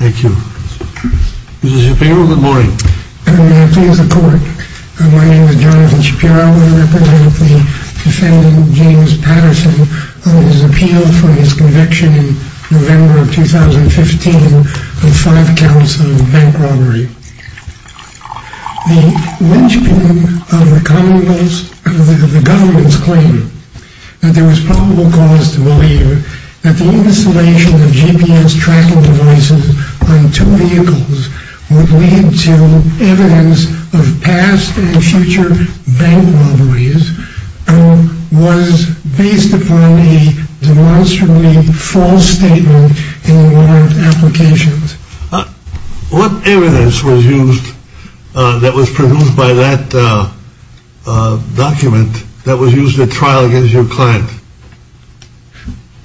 Thank you. Mr. Shapiro, good morning. Good morning. Please, the court. My name is Jonathan Shapiro. I represent the defendant, James Patterson, on his appeal for his conviction in November of 2015 of five counts of bank robbery. The lynching of the government's claim that there was probable cause to believe that the installation of GPS tracking devices on two vehicles would lead to evidence of past and future bank robberies was based upon a demonstrably false statement in one of the applications. What evidence was used that was produced by that document that was used at trial against your client?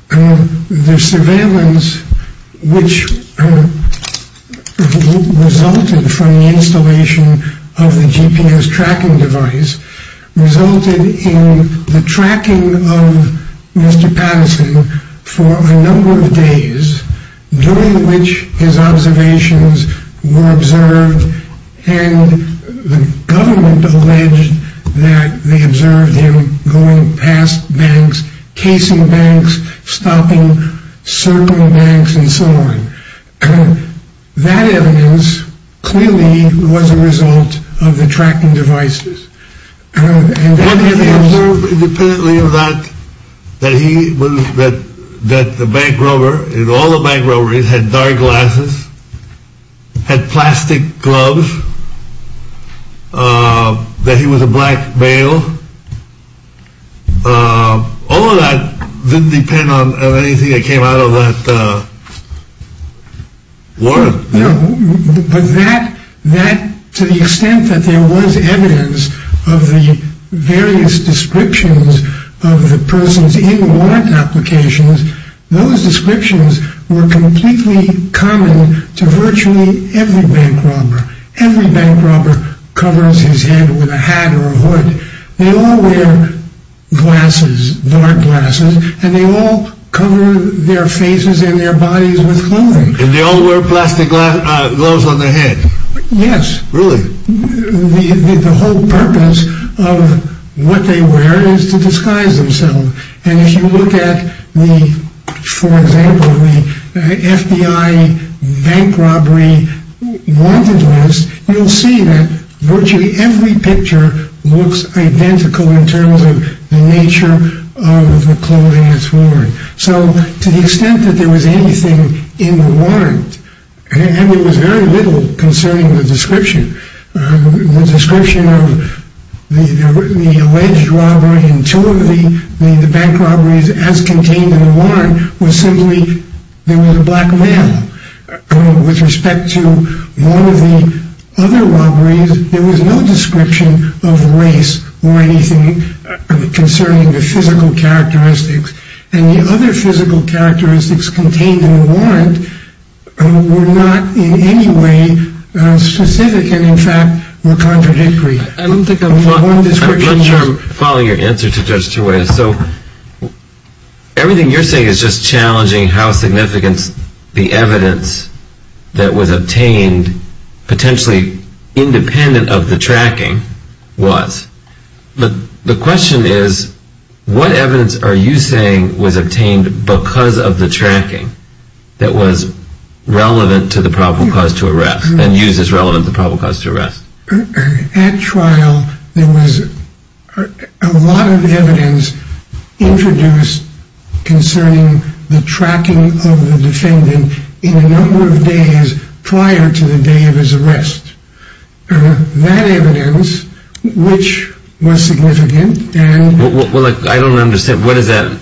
The surveillance which resulted from the installation of the GPS tracking device resulted in the tracking of Mr. Patterson for a number of days, during which his observations were observed and the government alleged that they observed him going past banks, casing banks, stopping certain banks and so on. That evidence clearly was a result of the tracking devices. They observed independently of that, that the bank robber, all the bank robberies had dark glasses, had plastic gloves, that he was a black male. All of that didn't depend on anything that came out of that warrant. But that, to the extent that there was evidence of the various descriptions of the persons in warrant applications, those descriptions were completely common to virtually every bank robber. Every bank robber covers his head with a hat or a hood. They all wear glasses, dark glasses, and they all cover their faces and their bodies with clothing. And they all wear plastic gloves on their head? Yes. Really? The whole purpose of what they wear is to disguise themselves. And if you look at, for example, the FBI bank robbery warranted list, you'll see that virtually every picture looks identical in terms of the nature of the clothing that's worn. So, to the extent that there was anything in the warrant, and there was very little concerning the description, the description of the alleged robbery and two of the bank robberies as contained in the warrant was simply there was a black male. With respect to one of the other robberies, there was no description of race or anything concerning the physical characteristics. And the other physical characteristics contained in the warrant were not in any way specific and, in fact, were contradictory. I don't think I'm following your answer to Judge Terway. So, everything you're saying is just challenging how significant the evidence that was obtained, potentially independent of the tracking, was. But the question is, what evidence are you saying was obtained because of the tracking that was relevant to the probable cause to arrest and used as relevant to the probable cause to arrest? At trial, there was a lot of evidence introduced concerning the tracking of the defendant in a number of days prior to the day of his arrest. That evidence, which was significant and... Well, I don't understand. What is that?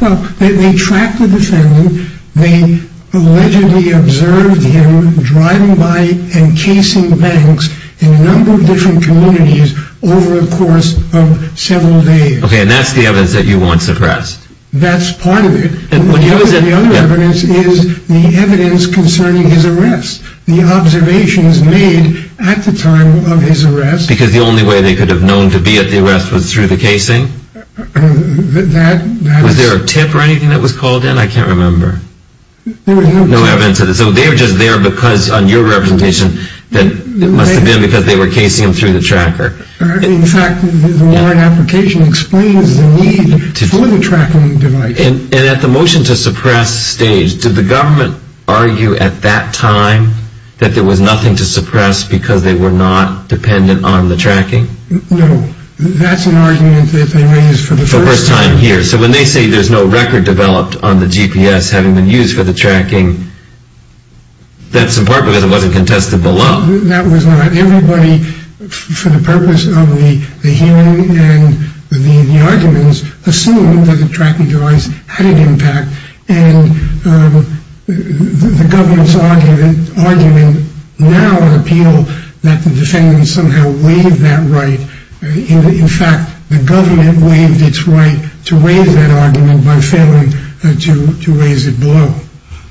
Well, they tracked the defendant. They allegedly observed him driving by encasing banks in a number of different communities over the course of several days. Okay, and that's the evidence that you want suppressed? That's part of it. And what you don't... The other evidence is the evidence concerning his arrest. The observations made at the time of his arrest... Because the only way they could have known to be at the arrest was through the casing? That... Was there a tip or anything that was called in? I can't remember. There was no tip. No evidence. So they were just there because, on your representation, it must have been because they were casing him through the tracker. In fact, the Warren application explains the need for the tracking device. And at the motion to suppress stage, did the government argue at that time that there was nothing to suppress because they were not dependent on the tracking? No. That's an argument that they raised for the first time. For the first time here. So when they say there's no record developed on the GPS having been used for the tracking, that's a part because it wasn't contested below. That was not. Everybody, for the purpose of the hearing and the arguments, assumed that the tracking device had an impact. And the government's argument now in appeal that the defendant somehow waived that right. In fact, the government waived its right to waive that argument by failing to raise it below.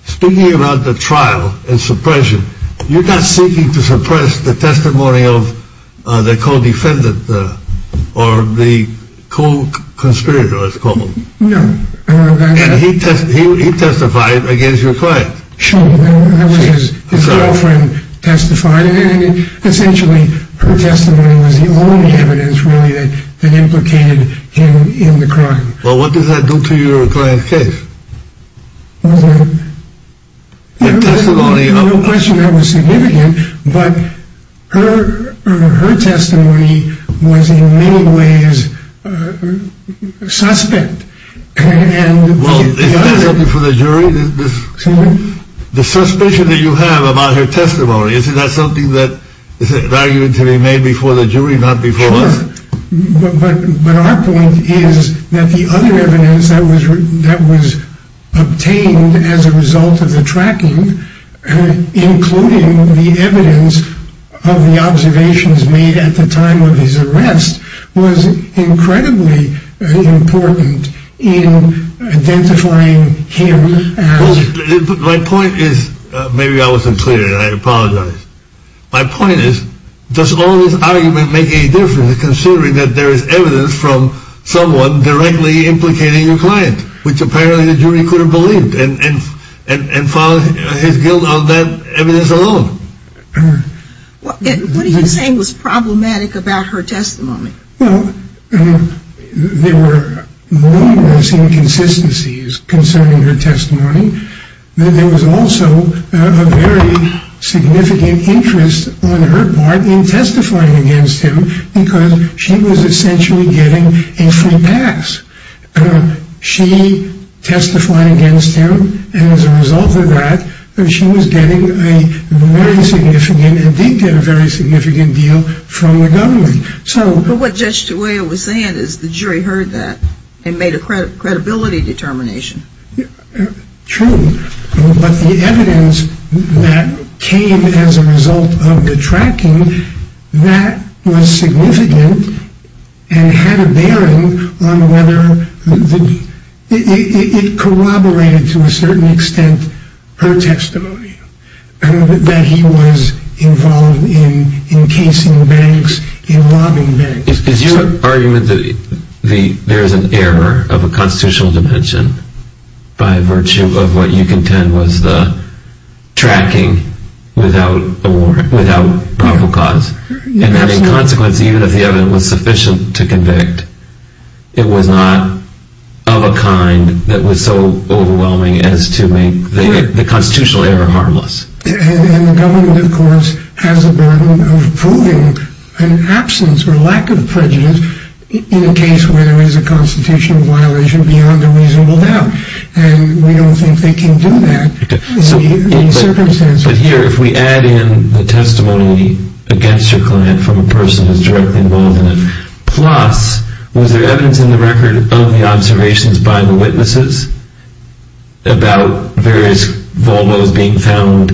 Speaking about the trial and suppression, you're not seeking to suppress the testimony of the co-defendant or the co-conspirator, as it's called. No. And he testified against your client. Sure. His girlfriend testified. And essentially, her testimony was the only evidence really that implicated him in the crime. Well, what does that do to your client's case? No question that was significant, but her testimony was in many ways suspect. Well, is that something for the jury? The suspicion that you have about her testimony, is that something that is an argument to be made before the jury, not before us? But our point is that the other evidence that was that was obtained as a result of the tracking, including the evidence of the observations made at the time of his arrest, was incredibly important in identifying him. My point is, maybe I wasn't clear, and I apologize. My point is, does all this argument make any difference, considering that there is evidence from someone directly implicating your client, which apparently the jury could have believed and found his guilt on that evidence alone? What are you saying was problematic about her testimony? Well, there were numerous inconsistencies concerning her testimony. There was also a very significant interest on her part in testifying against him, because she was essentially getting a free pass. She testified against him, and as a result of that, she was getting a very significant and did get a very significant deal from the government. But what Judge DeGioia was saying is the jury heard that and made a credibility determination. True. But the evidence that came as a result of the tracking, that was significant and had a bearing on whether It corroborated to a certain extent her testimony, that he was involved in encasing bags, in robbing bags. Is your argument that there is an error of a constitutional dimension, by virtue of what you contend was the tracking without proper cause? Yes. And as a consequence, even if the evidence was sufficient to convict, it was not of a kind that was so overwhelming as to make the constitutional error harmless? And the government, of course, has a burden of proving an absence or lack of prejudice in a case where there is a constitutional violation beyond a reasonable doubt. And we don't think they can do that in these circumstances. But here, if we add in the testimony against your client from a person who is directly involved in it, plus, was there evidence in the record of the observations by the witnesses about various Volvos being found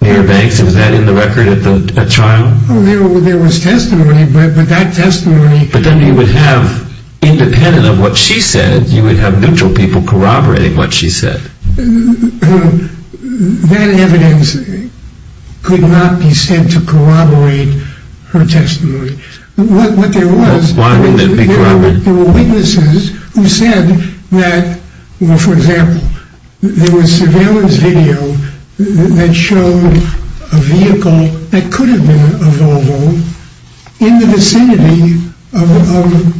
near banks? Was that in the record at trial? There was testimony, but that testimony... But then you would have, independent of what she said, you would have neutral people corroborating what she said. That evidence could not be said to corroborate her testimony. What there was... Why wouldn't it be corroborated? There were witnesses who said that, for example, there was surveillance video that showed a vehicle that could have been a Volvo in the vicinity of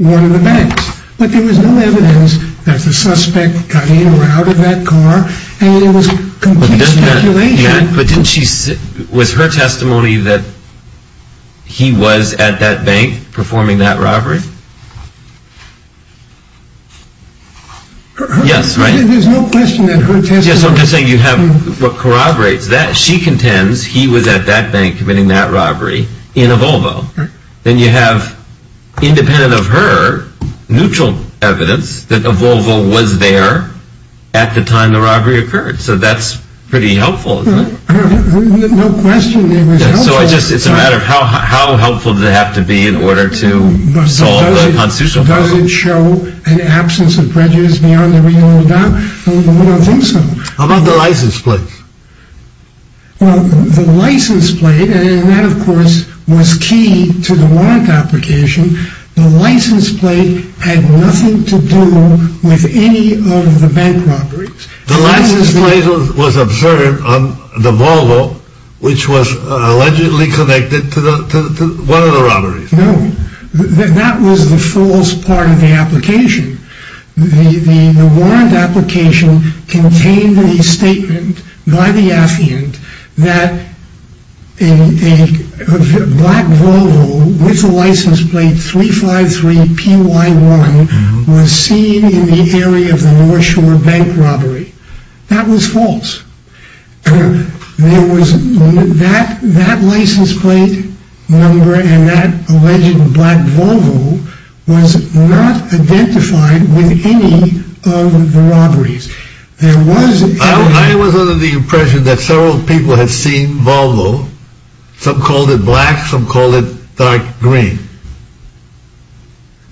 one of the banks. But there was no evidence that the suspect got in or out of that car, and it was complete speculation. But didn't she... Was her testimony that he was at that bank performing that robbery? Yes, right. There's no question that her testimony... Yes, I'm just saying you have what corroborates that. She contends he was at that bank committing that robbery in a Volvo. Then you have, independent of her, neutral evidence that a Volvo was there at the time the robbery occurred. So that's pretty helpful, isn't it? No question it was helpful. So it's a matter of how helpful did it have to be in order to solve the constitutional problem? Does it show an absence of prejudice beyond the legal endowment? I don't think so. How about the license plate? Well, the license plate, and that of course was key to the warrant application. The license plate had nothing to do with any of the bank robberies. The license plate was observed on the Volvo, which was allegedly connected to one of the robberies. No, that was the false part of the application. The warrant application contained a statement by the affiant that a black Volvo with a license plate 353PY1 was seen in the area of the North Shore bank robbery. That was false. That license plate number and that alleged black Volvo was not identified with any of the robberies. I was under the impression that several people had seen Volvo, some called it black, some called it dark green,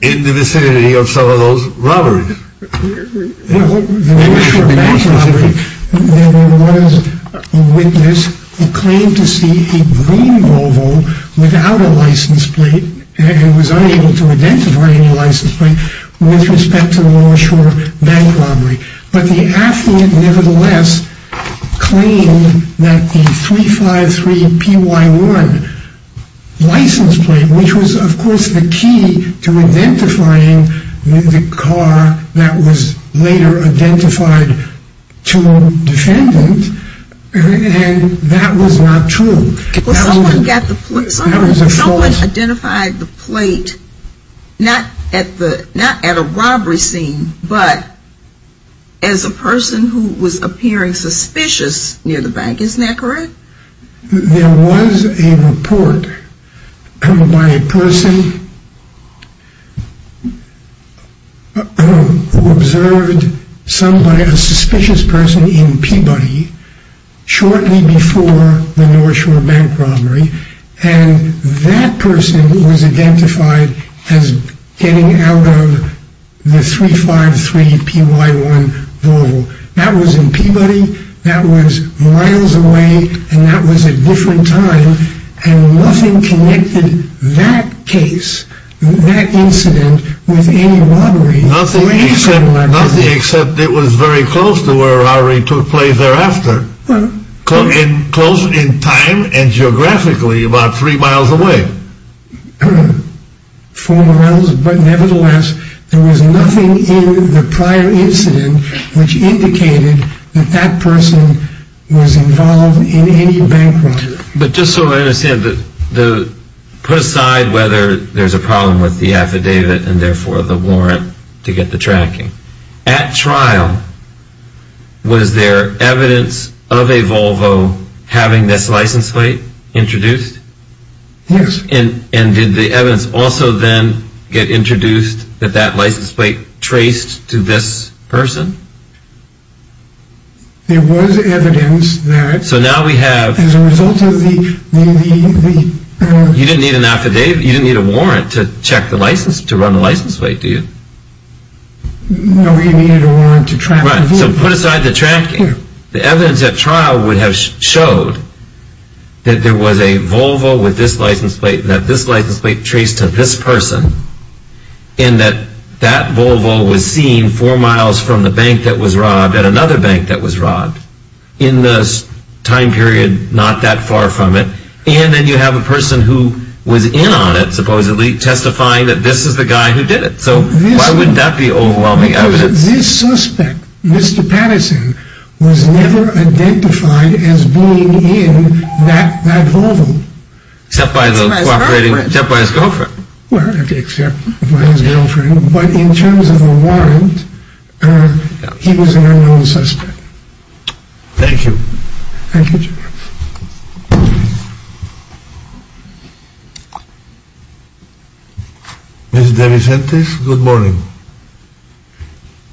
in the vicinity of some of those robberies. The North Shore bank robbery, there was a witness who claimed to see a green Volvo without a license plate and was unable to identify any license plate with respect to the North Shore bank robbery. But the affiant nevertheless claimed that the 353PY1 license plate, which was of course the key to identifying the car that was later identified to a defendant, and that was not true. Someone identified the plate, not at a robbery scene, but as a person who was appearing suspicious near the bank. Isn't that correct? There was a report by a person who observed a suspicious person in Peabody shortly before the North Shore bank robbery and that person was identified as getting out of the 353PY1 Volvo. That was in Peabody, that was miles away and that was a different time and nothing connected that case, that incident, with any robbery. Nothing except it was very close to where a robbery took place thereafter. Close in time and geographically about three miles away. Four miles, but nevertheless there was nothing in the prior incident which indicated that that person was involved in any bank robbery. But just so I understand, put aside whether there's a problem with the affidavit and therefore the warrant to get the tracking, at trial was there evidence of a Volvo having this license plate introduced? Yes. And did the evidence also then get introduced that that license plate traced to this person? There was evidence that as a result of the... You didn't need a warrant to run the license plate, did you? No, you needed a warrant to track the Volvo. Right, so put aside the tracking. The evidence at trial would have showed that there was a Volvo with this license plate that this license plate traced to this person and that that Volvo was seen four miles from the bank that was robbed at another bank that was robbed in this time period not that far from it and then you have a person who was in on it, supposedly, testifying that this is the guy who did it. So why wouldn't that be overwhelming evidence? This suspect, Mr. Patterson, was never identified as being in that Volvo. Except by his girlfriend. Except by his girlfriend, but in terms of the warrant, he was an unknown suspect. Thank you, General. Ms. DeVincentis, good morning.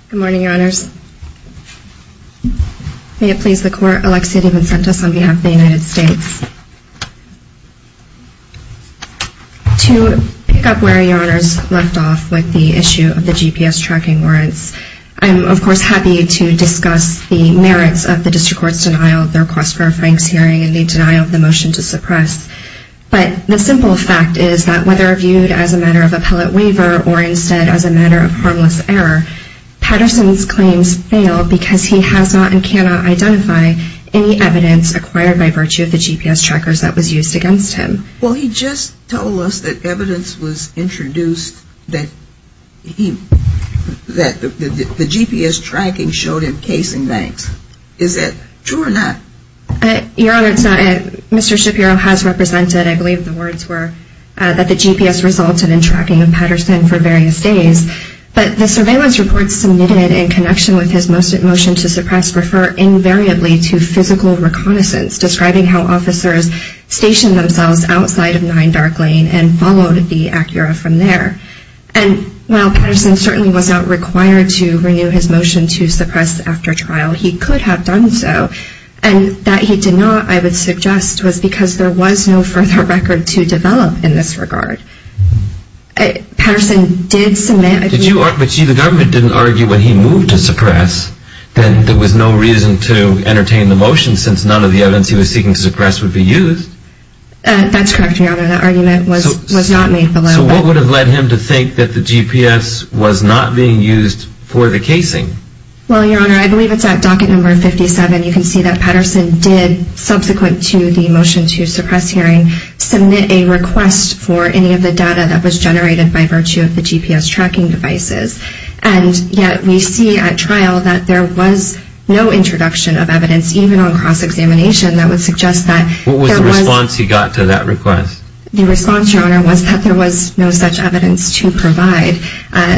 Good morning, Your Honors. May it please the Court, Alexia DeVincentis on behalf of the United States. To pick up where Your Honors left off with the issue of the GPS tracking warrants, I'm, of course, happy to discuss the merits of the District Court's denial of the request for a Frank's hearing. And the denial of the motion to suppress. But the simple fact is that whether viewed as a matter of appellate waiver or instead as a matter of harmless error, Patterson's claims fail because he has not and cannot identify any evidence acquired by virtue of the GPS trackers that was used against him. Well, he just told us that evidence was introduced that the GPS tracking showed him casing banks. Is that true or not? Your Honor, it's not. Mr. Shapiro has represented, I believe the words were, that the GPS resulted in tracking of Patterson for various days. But the surveillance reports submitted in connection with his motion to suppress refer invariably to physical reconnaissance, describing how officers stationed themselves outside of 9 Dark Lane and followed the Acura from there. And while Patterson certainly was not required to renew his motion to suppress after trial, he could have done so. And that he did not, I would suggest, was because there was no further record to develop in this regard. Patterson did submit. But see, the government didn't argue when he moved to suppress that there was no reason to entertain the motion since none of the evidence he was seeking to suppress would be used. That's correct, Your Honor. That argument was not made below. So what would have led him to think that the GPS was not being used for the casing? Well, Your Honor, I believe it's at docket number 57. You can see that Patterson did, subsequent to the motion to suppress hearing, submit a request for any of the data that was generated by virtue of the GPS tracking devices. And yet we see at trial that there was no introduction of evidence, even on cross-examination, that would suggest that there was... What was the response he got to that request? The response, Your Honor, was that there was no such evidence to provide.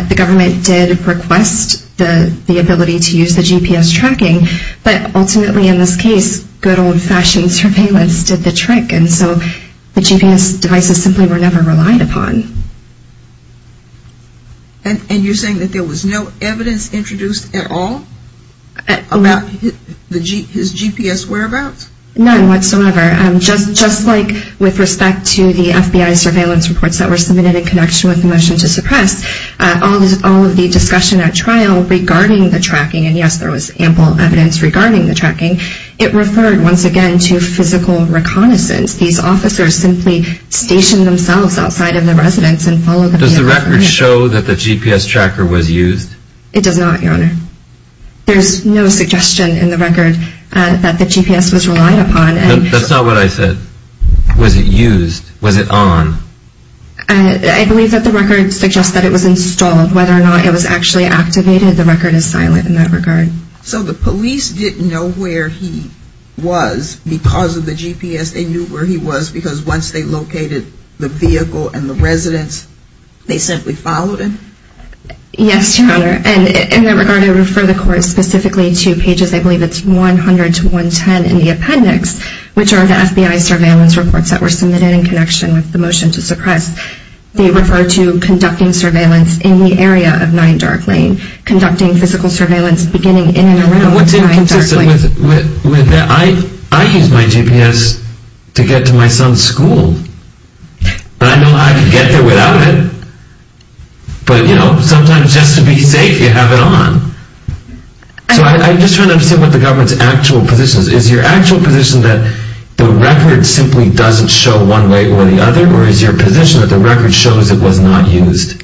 The government did request the ability to use the GPS tracking. But ultimately, in this case, good old-fashioned surveillance did the trick. And so the GPS devices simply were never relied upon. And you're saying that there was no evidence introduced at all about his GPS whereabouts? None whatsoever. Just like with respect to the FBI surveillance reports that were submitted in connection with the motion to suppress, all of the discussion at trial regarding the tracking, and, yes, there was ample evidence regarding the tracking, it referred, once again, to physical reconnaissance. These officers simply stationed themselves outside of the residence and followed... Does the record show that the GPS tracker was used? It does not, Your Honor. There's no suggestion in the record that the GPS was relied upon. That's not what I said. Was it used? Was it on? I believe that the record suggests that it was installed. Whether or not it was actually activated, the record is silent in that regard. So the police didn't know where he was because of the GPS. They knew where he was because once they located the vehicle and the residence, they simply followed him? Yes, Your Honor. And in that regard, I refer the court specifically to pages, I believe it's 100 to 110 in the appendix, which are the FBI surveillance reports that were submitted in connection with the motion to suppress. They refer to conducting surveillance in the area of 9 Dark Lane, conducting physical surveillance beginning in and around 9 Dark Lane. What's inconsistent with that? I use my GPS to get to my son's school, and I know how to get there without it. But, you know, sometimes just to be safe, you have it on. So I'm just trying to understand what the government's actual position is. Is your actual position that the record simply doesn't show one way or the other, or is your position that the record shows it was not used?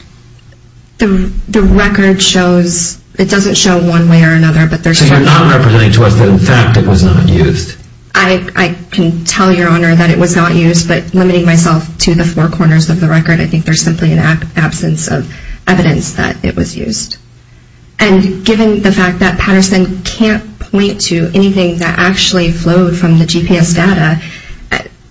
The record shows it doesn't show one way or another. So you're not representing to us that, in fact, it was not used? I can tell Your Honor that it was not used, but limiting myself to the four corners of the record, I think there's simply an absence of evidence that it was used. And given the fact that Patterson can't point to anything that actually flowed from the GPS data,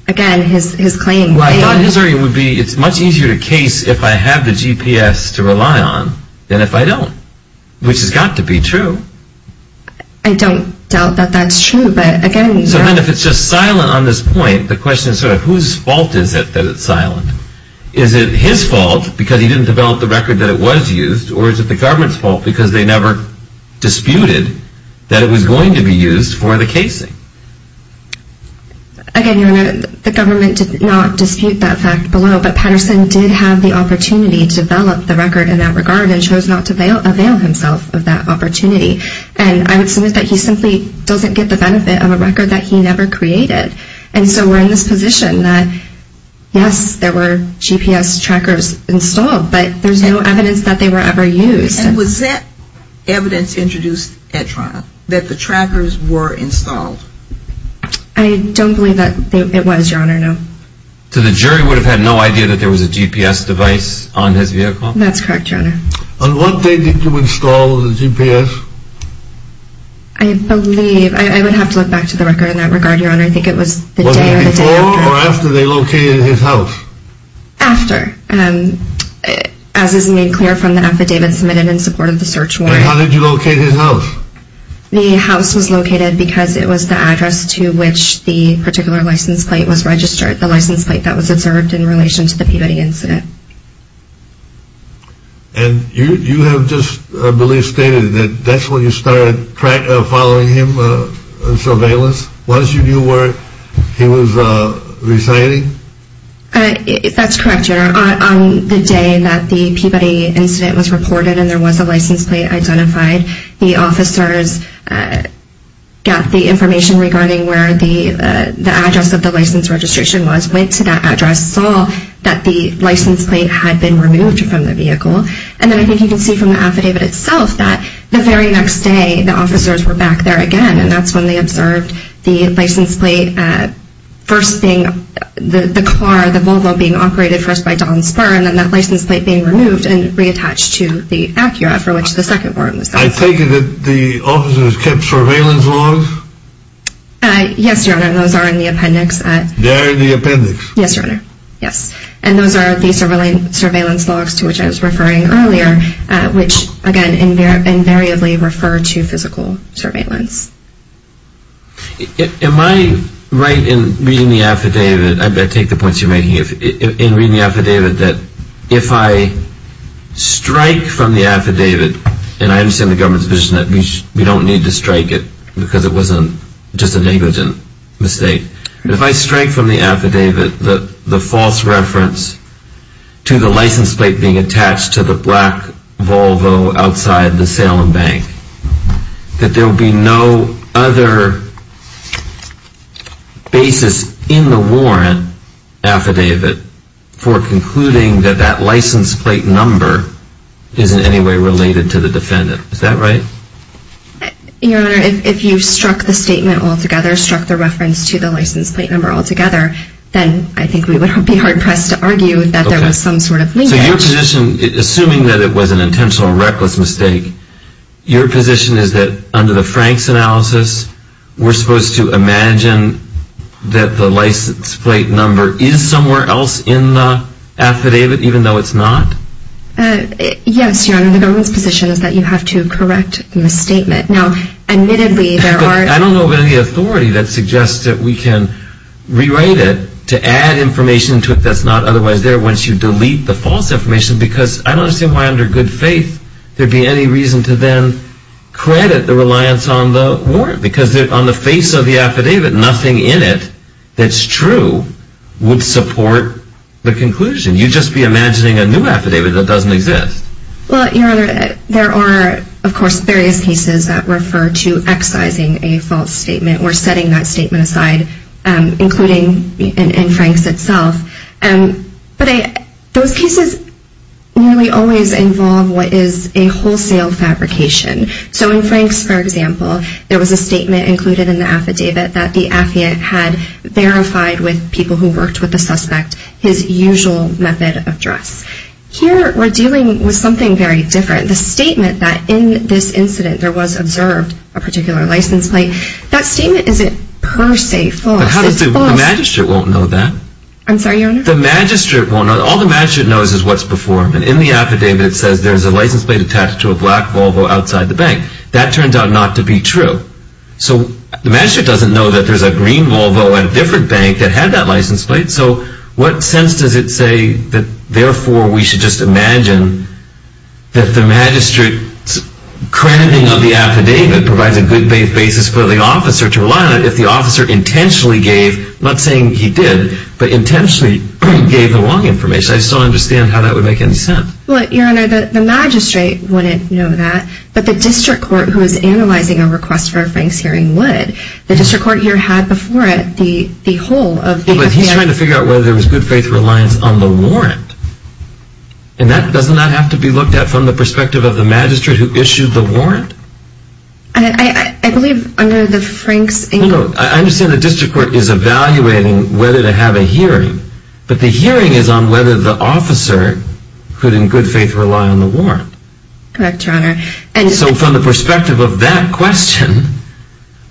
again, his claim... Well, I thought his argument would be, it's much easier to case if I have the GPS to rely on than if I don't, which has got to be true. I don't doubt that that's true, but again... So then if it's just silent on this point, the question is sort of whose fault is it that it's silent? Is it his fault because he didn't develop the record that it was used, or is it the government's fault because they never disputed that it was going to be used for the casing? Again, Your Honor, the government did not dispute that fact below, but Patterson did have the opportunity to develop the record in that regard and chose not to avail himself of that opportunity. And I would submit that he simply doesn't get the benefit of a record that he never created. And so we're in this position that, yes, there were GPS trackers installed, but there's no evidence that they were ever used. And was that evidence introduced at trial, that the trackers were installed? I don't believe that it was, Your Honor, no. So the jury would have had no idea that there was a GPS device on his vehicle? That's correct, Your Honor. On what day did you install the GPS? I believe... I would have to look back to the record in that regard, Your Honor. I think it was the day or the day after. Was it before or after they located his house? After, as is made clear from the affidavit submitted in support of the search warrant. And how did you locate his house? The house was located because it was the address to which the particular license plate was registered, the license plate that was observed in relation to the Peabody incident. And you have just, I believe, stated that that's when you started following him in surveillance? Once you knew where he was residing? That's correct, Your Honor. On the day that the Peabody incident was reported and there was a license plate identified, the officers got the information regarding where the address of the license registration was, went to that address, saw that the license plate had been removed from the vehicle. And then I think you can see from the affidavit itself that the very next day, the officers were back there again, and that's when they observed the license plate. The car, the Volvo, being operated first by Don Spurr, and then that license plate being removed and reattached to the Acura for which the second warrant was filed. I take it that the officers kept surveillance logs? Yes, Your Honor. Those are in the appendix. They're in the appendix? Yes, Your Honor. Yes. And those are the surveillance logs to which I was referring earlier, which, again, invariably refer to physical surveillance. Am I right in reading the affidavit, I take the points you're making, in reading the affidavit that if I strike from the affidavit, and I understand the government's vision that we don't need to strike it because it wasn't just a negligent mistake. If I strike from the affidavit the false reference to the license plate being attached to the black Volvo outside the Salem Bank, that there will be no other basis in the warrant affidavit for concluding that that license plate number is in any way related to the defendant. Is that right? Your Honor, if you struck the statement altogether, struck the reference to the license plate number altogether, then I think we would be hard-pressed to argue that there was some sort of linkage. So your position, assuming that it was an intentional, reckless mistake, your position is that under the Frank's analysis, we're supposed to imagine that the license plate number is somewhere else in the affidavit, even though it's not? Yes, Your Honor, the government's position is that you have to correct the misstatement. Now, admittedly, there are... But I don't know of any authority that suggests that we can rewrite it to add information to it that's not otherwise there once you delete the false information because I don't understand why under good faith there'd be any reason to then credit the reliance on the warrant because on the face of the affidavit, nothing in it that's true would support the conclusion. You'd just be imagining a new affidavit that doesn't exist. Well, Your Honor, there are, of course, various cases that refer to excising a false statement or setting that statement aside, including in Frank's itself. But those cases nearly always involve what is a wholesale fabrication. So in Frank's, for example, there was a statement included in the affidavit that the affiant had verified with people who worked with the suspect his usual method of dress. Here we're dealing with something very different. The statement that in this incident there was observed a particular license plate, that statement isn't per se false. It's false. The magistrate won't know that. I'm sorry, Your Honor? The magistrate won't know. All the magistrate knows is what's before him. And in the affidavit it says there's a license plate attached to a black Volvo outside the bank. That turns out not to be true. So the magistrate doesn't know that there's a green Volvo at a different bank that had that license plate. So what sense does it say that therefore we should just imagine that the magistrate's crediting of the affidavit provides a good faith basis for the officer to rely on if the officer intentionally gave, not saying he did, but intentionally gave the wrong information? I still don't understand how that would make any sense. Well, Your Honor, the magistrate wouldn't know that, but the district court who is analyzing a request for a Frank's hearing would. The district court here had before it the whole of the affiant. But he's trying to figure out whether there was good faith reliance on the warrant. And doesn't that have to be looked at from the perspective of the magistrate who issued the warrant? I believe under the Frank's... I understand the district court is evaluating whether to have a hearing, but the hearing is on whether the officer could in good faith rely on the warrant. Correct, Your Honor. So from the perspective of that question,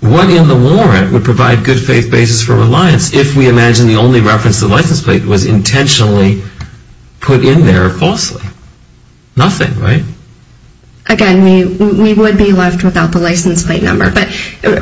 what in the warrant would provide good faith basis for reliance if we imagine the only reference to the license plate was intentionally put in there falsely? Nothing, right? Again, we would be left without the license plate number. But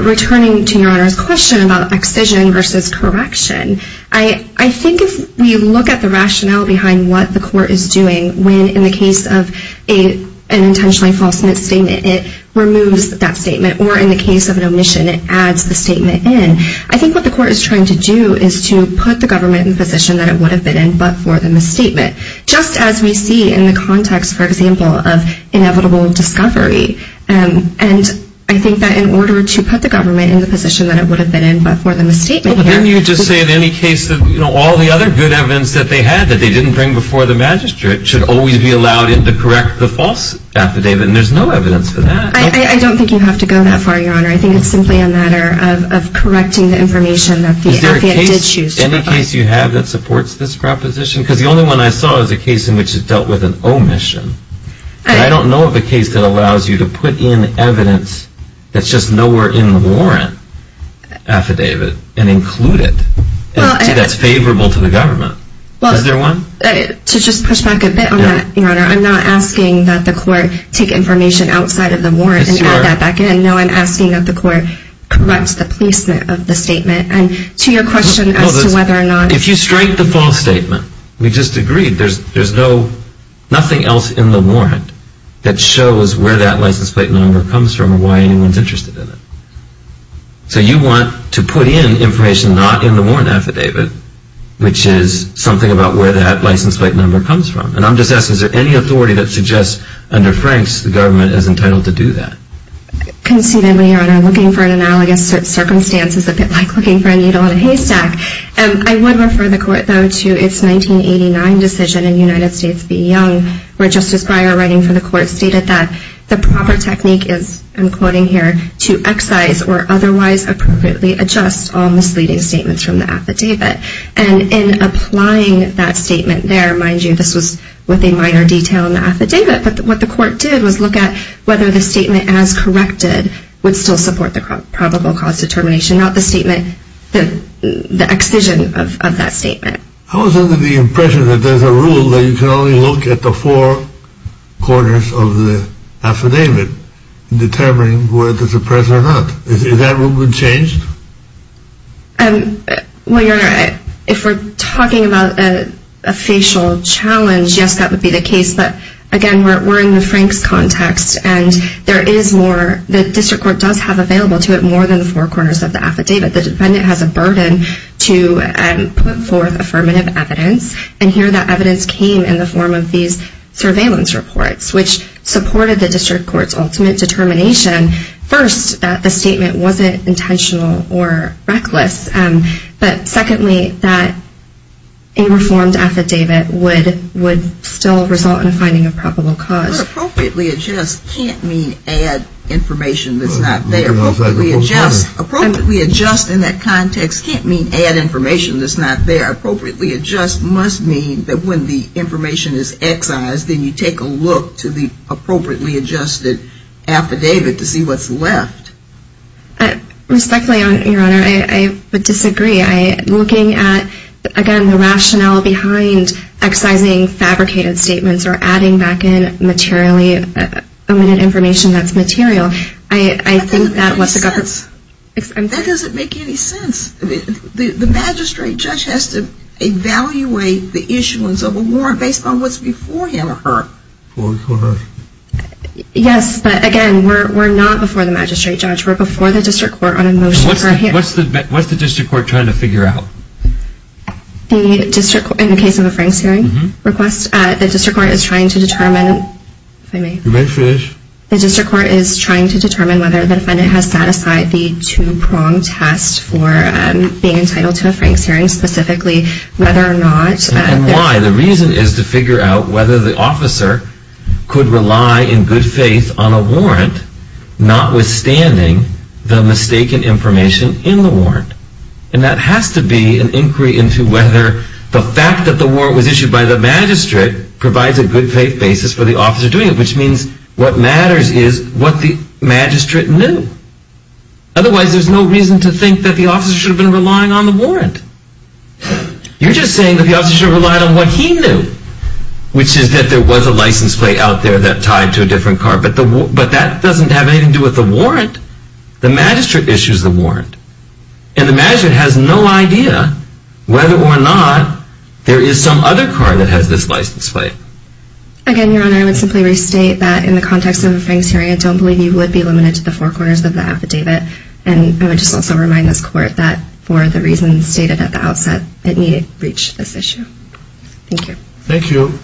returning to Your Honor's question about excision versus correction, I think if we look at the rationale behind what the court is doing when in the case of an intentionally false misstatement it removes that statement, or in the case of an omission it adds the statement in, I think what the court is trying to do is to put the government in the position that it would have been in but for the misstatement. Just as we see in the context, for example, of inevitable discovery. And I think that in order to put the government in the position that it would have been in but for the misstatement here... But then you would just say in any case that all the other good evidence that they had that they didn't bring before the magistrate should always be allowed in to correct the false affidavit. And there's no evidence for that. I don't think you have to go that far, Your Honor. I think it's simply a matter of correcting the information that the affidavit did choose to provide. Is there a case, any case you have that supports this proposition? Because the only one I saw is a case in which it dealt with an omission. And I don't know of a case that allows you to put in evidence that's just nowhere in the warrant affidavit and include it. See, that's favorable to the government. Is there one? To just push back a bit on that, Your Honor, I'm not asking that the court take information outside of the warrant and add that back in. No, I'm asking that the court correct the placement of the statement. And to your question as to whether or not... If you strike the false statement, we just agreed there's nothing else in the warrant that shows where that license plate number comes from or why anyone's interested in it. So you want to put in information not in the warrant affidavit, which is something about where that license plate number comes from. And I'm just asking, is there any authority that suggests under Frank's the government is entitled to do that? Concedingly, Your Honor, looking for an analogous circumstance is a bit like looking for a needle in a haystack. I would refer the court, though, to its 1989 decision in United States v. Young where Justice Breyer, writing for the court, stated that the proper technique is, I'm quoting here, to excise or otherwise appropriately adjust all misleading statements from the affidavit. And in applying that statement there, mind you, this was with a minor detail in the affidavit, but what the court did was look at whether the statement as corrected would still support the probable cause determination, not the excision of that statement. I was under the impression that there's a rule that you can only look at the four corners of the affidavit in determining whether to suppress or not. Is that rule been changed? Well, Your Honor, if we're talking about a facial challenge, yes, that would be the case. But, again, we're in the Franks context and there is more, the district court does have available to it more than the four corners of the affidavit. The defendant has a burden to put forth affirmative evidence and here that evidence came in the form of these surveillance reports which supported the district court's ultimate determination, first, that the statement wasn't intentional or reckless, but, secondly, that a reformed affidavit would still result in finding a probable cause. But appropriately adjust can't mean add information that's not there. Appropriately adjust in that context can't mean add information that's not there. Appropriately adjust must mean that when the information is excised then you take a look to the appropriately adjusted affidavit to see what's left. Respectfully, Your Honor, I would disagree. Looking at, again, the rationale behind excising fabricated statements or adding back in materially omitted information that's material, I think that was the government's... That doesn't make any sense. The magistrate judge has to evaluate the issuance of a warrant based on what's before him or her. Before her. Yes, but, again, we're not before the magistrate judge. We're before the district court on a motion for a hearing. What's the district court trying to figure out? In the case of a Franks hearing request, the district court is trying to determine... If I may. You may finish. The district court is trying to determine whether the defendant has set aside the two-pronged test for being entitled to a Franks hearing specifically, whether or not... And why? And the reason is to figure out whether the officer could rely in good faith on a warrant notwithstanding the mistaken information in the warrant. And that has to be an inquiry into whether the fact that the warrant was issued by the magistrate provides a good faith basis for the officer doing it, which means what matters is what the magistrate knew. Otherwise, there's no reason to think that the officer should have been relying on the warrant. You're just saying that the officer should have relied on what he knew, which is that there was a license plate out there that tied to a different car. But that doesn't have anything to do with the warrant. The magistrate issues the warrant. And the magistrate has no idea whether or not there is some other car that has this license plate. Again, Your Honor, I would simply restate that in the context of a Franks hearing, I don't believe you would be limited to the four corners of the affidavit. And I would just also remind this Court that for the reasons stated at the outset, it needed to reach this issue. Thank you. Thank you.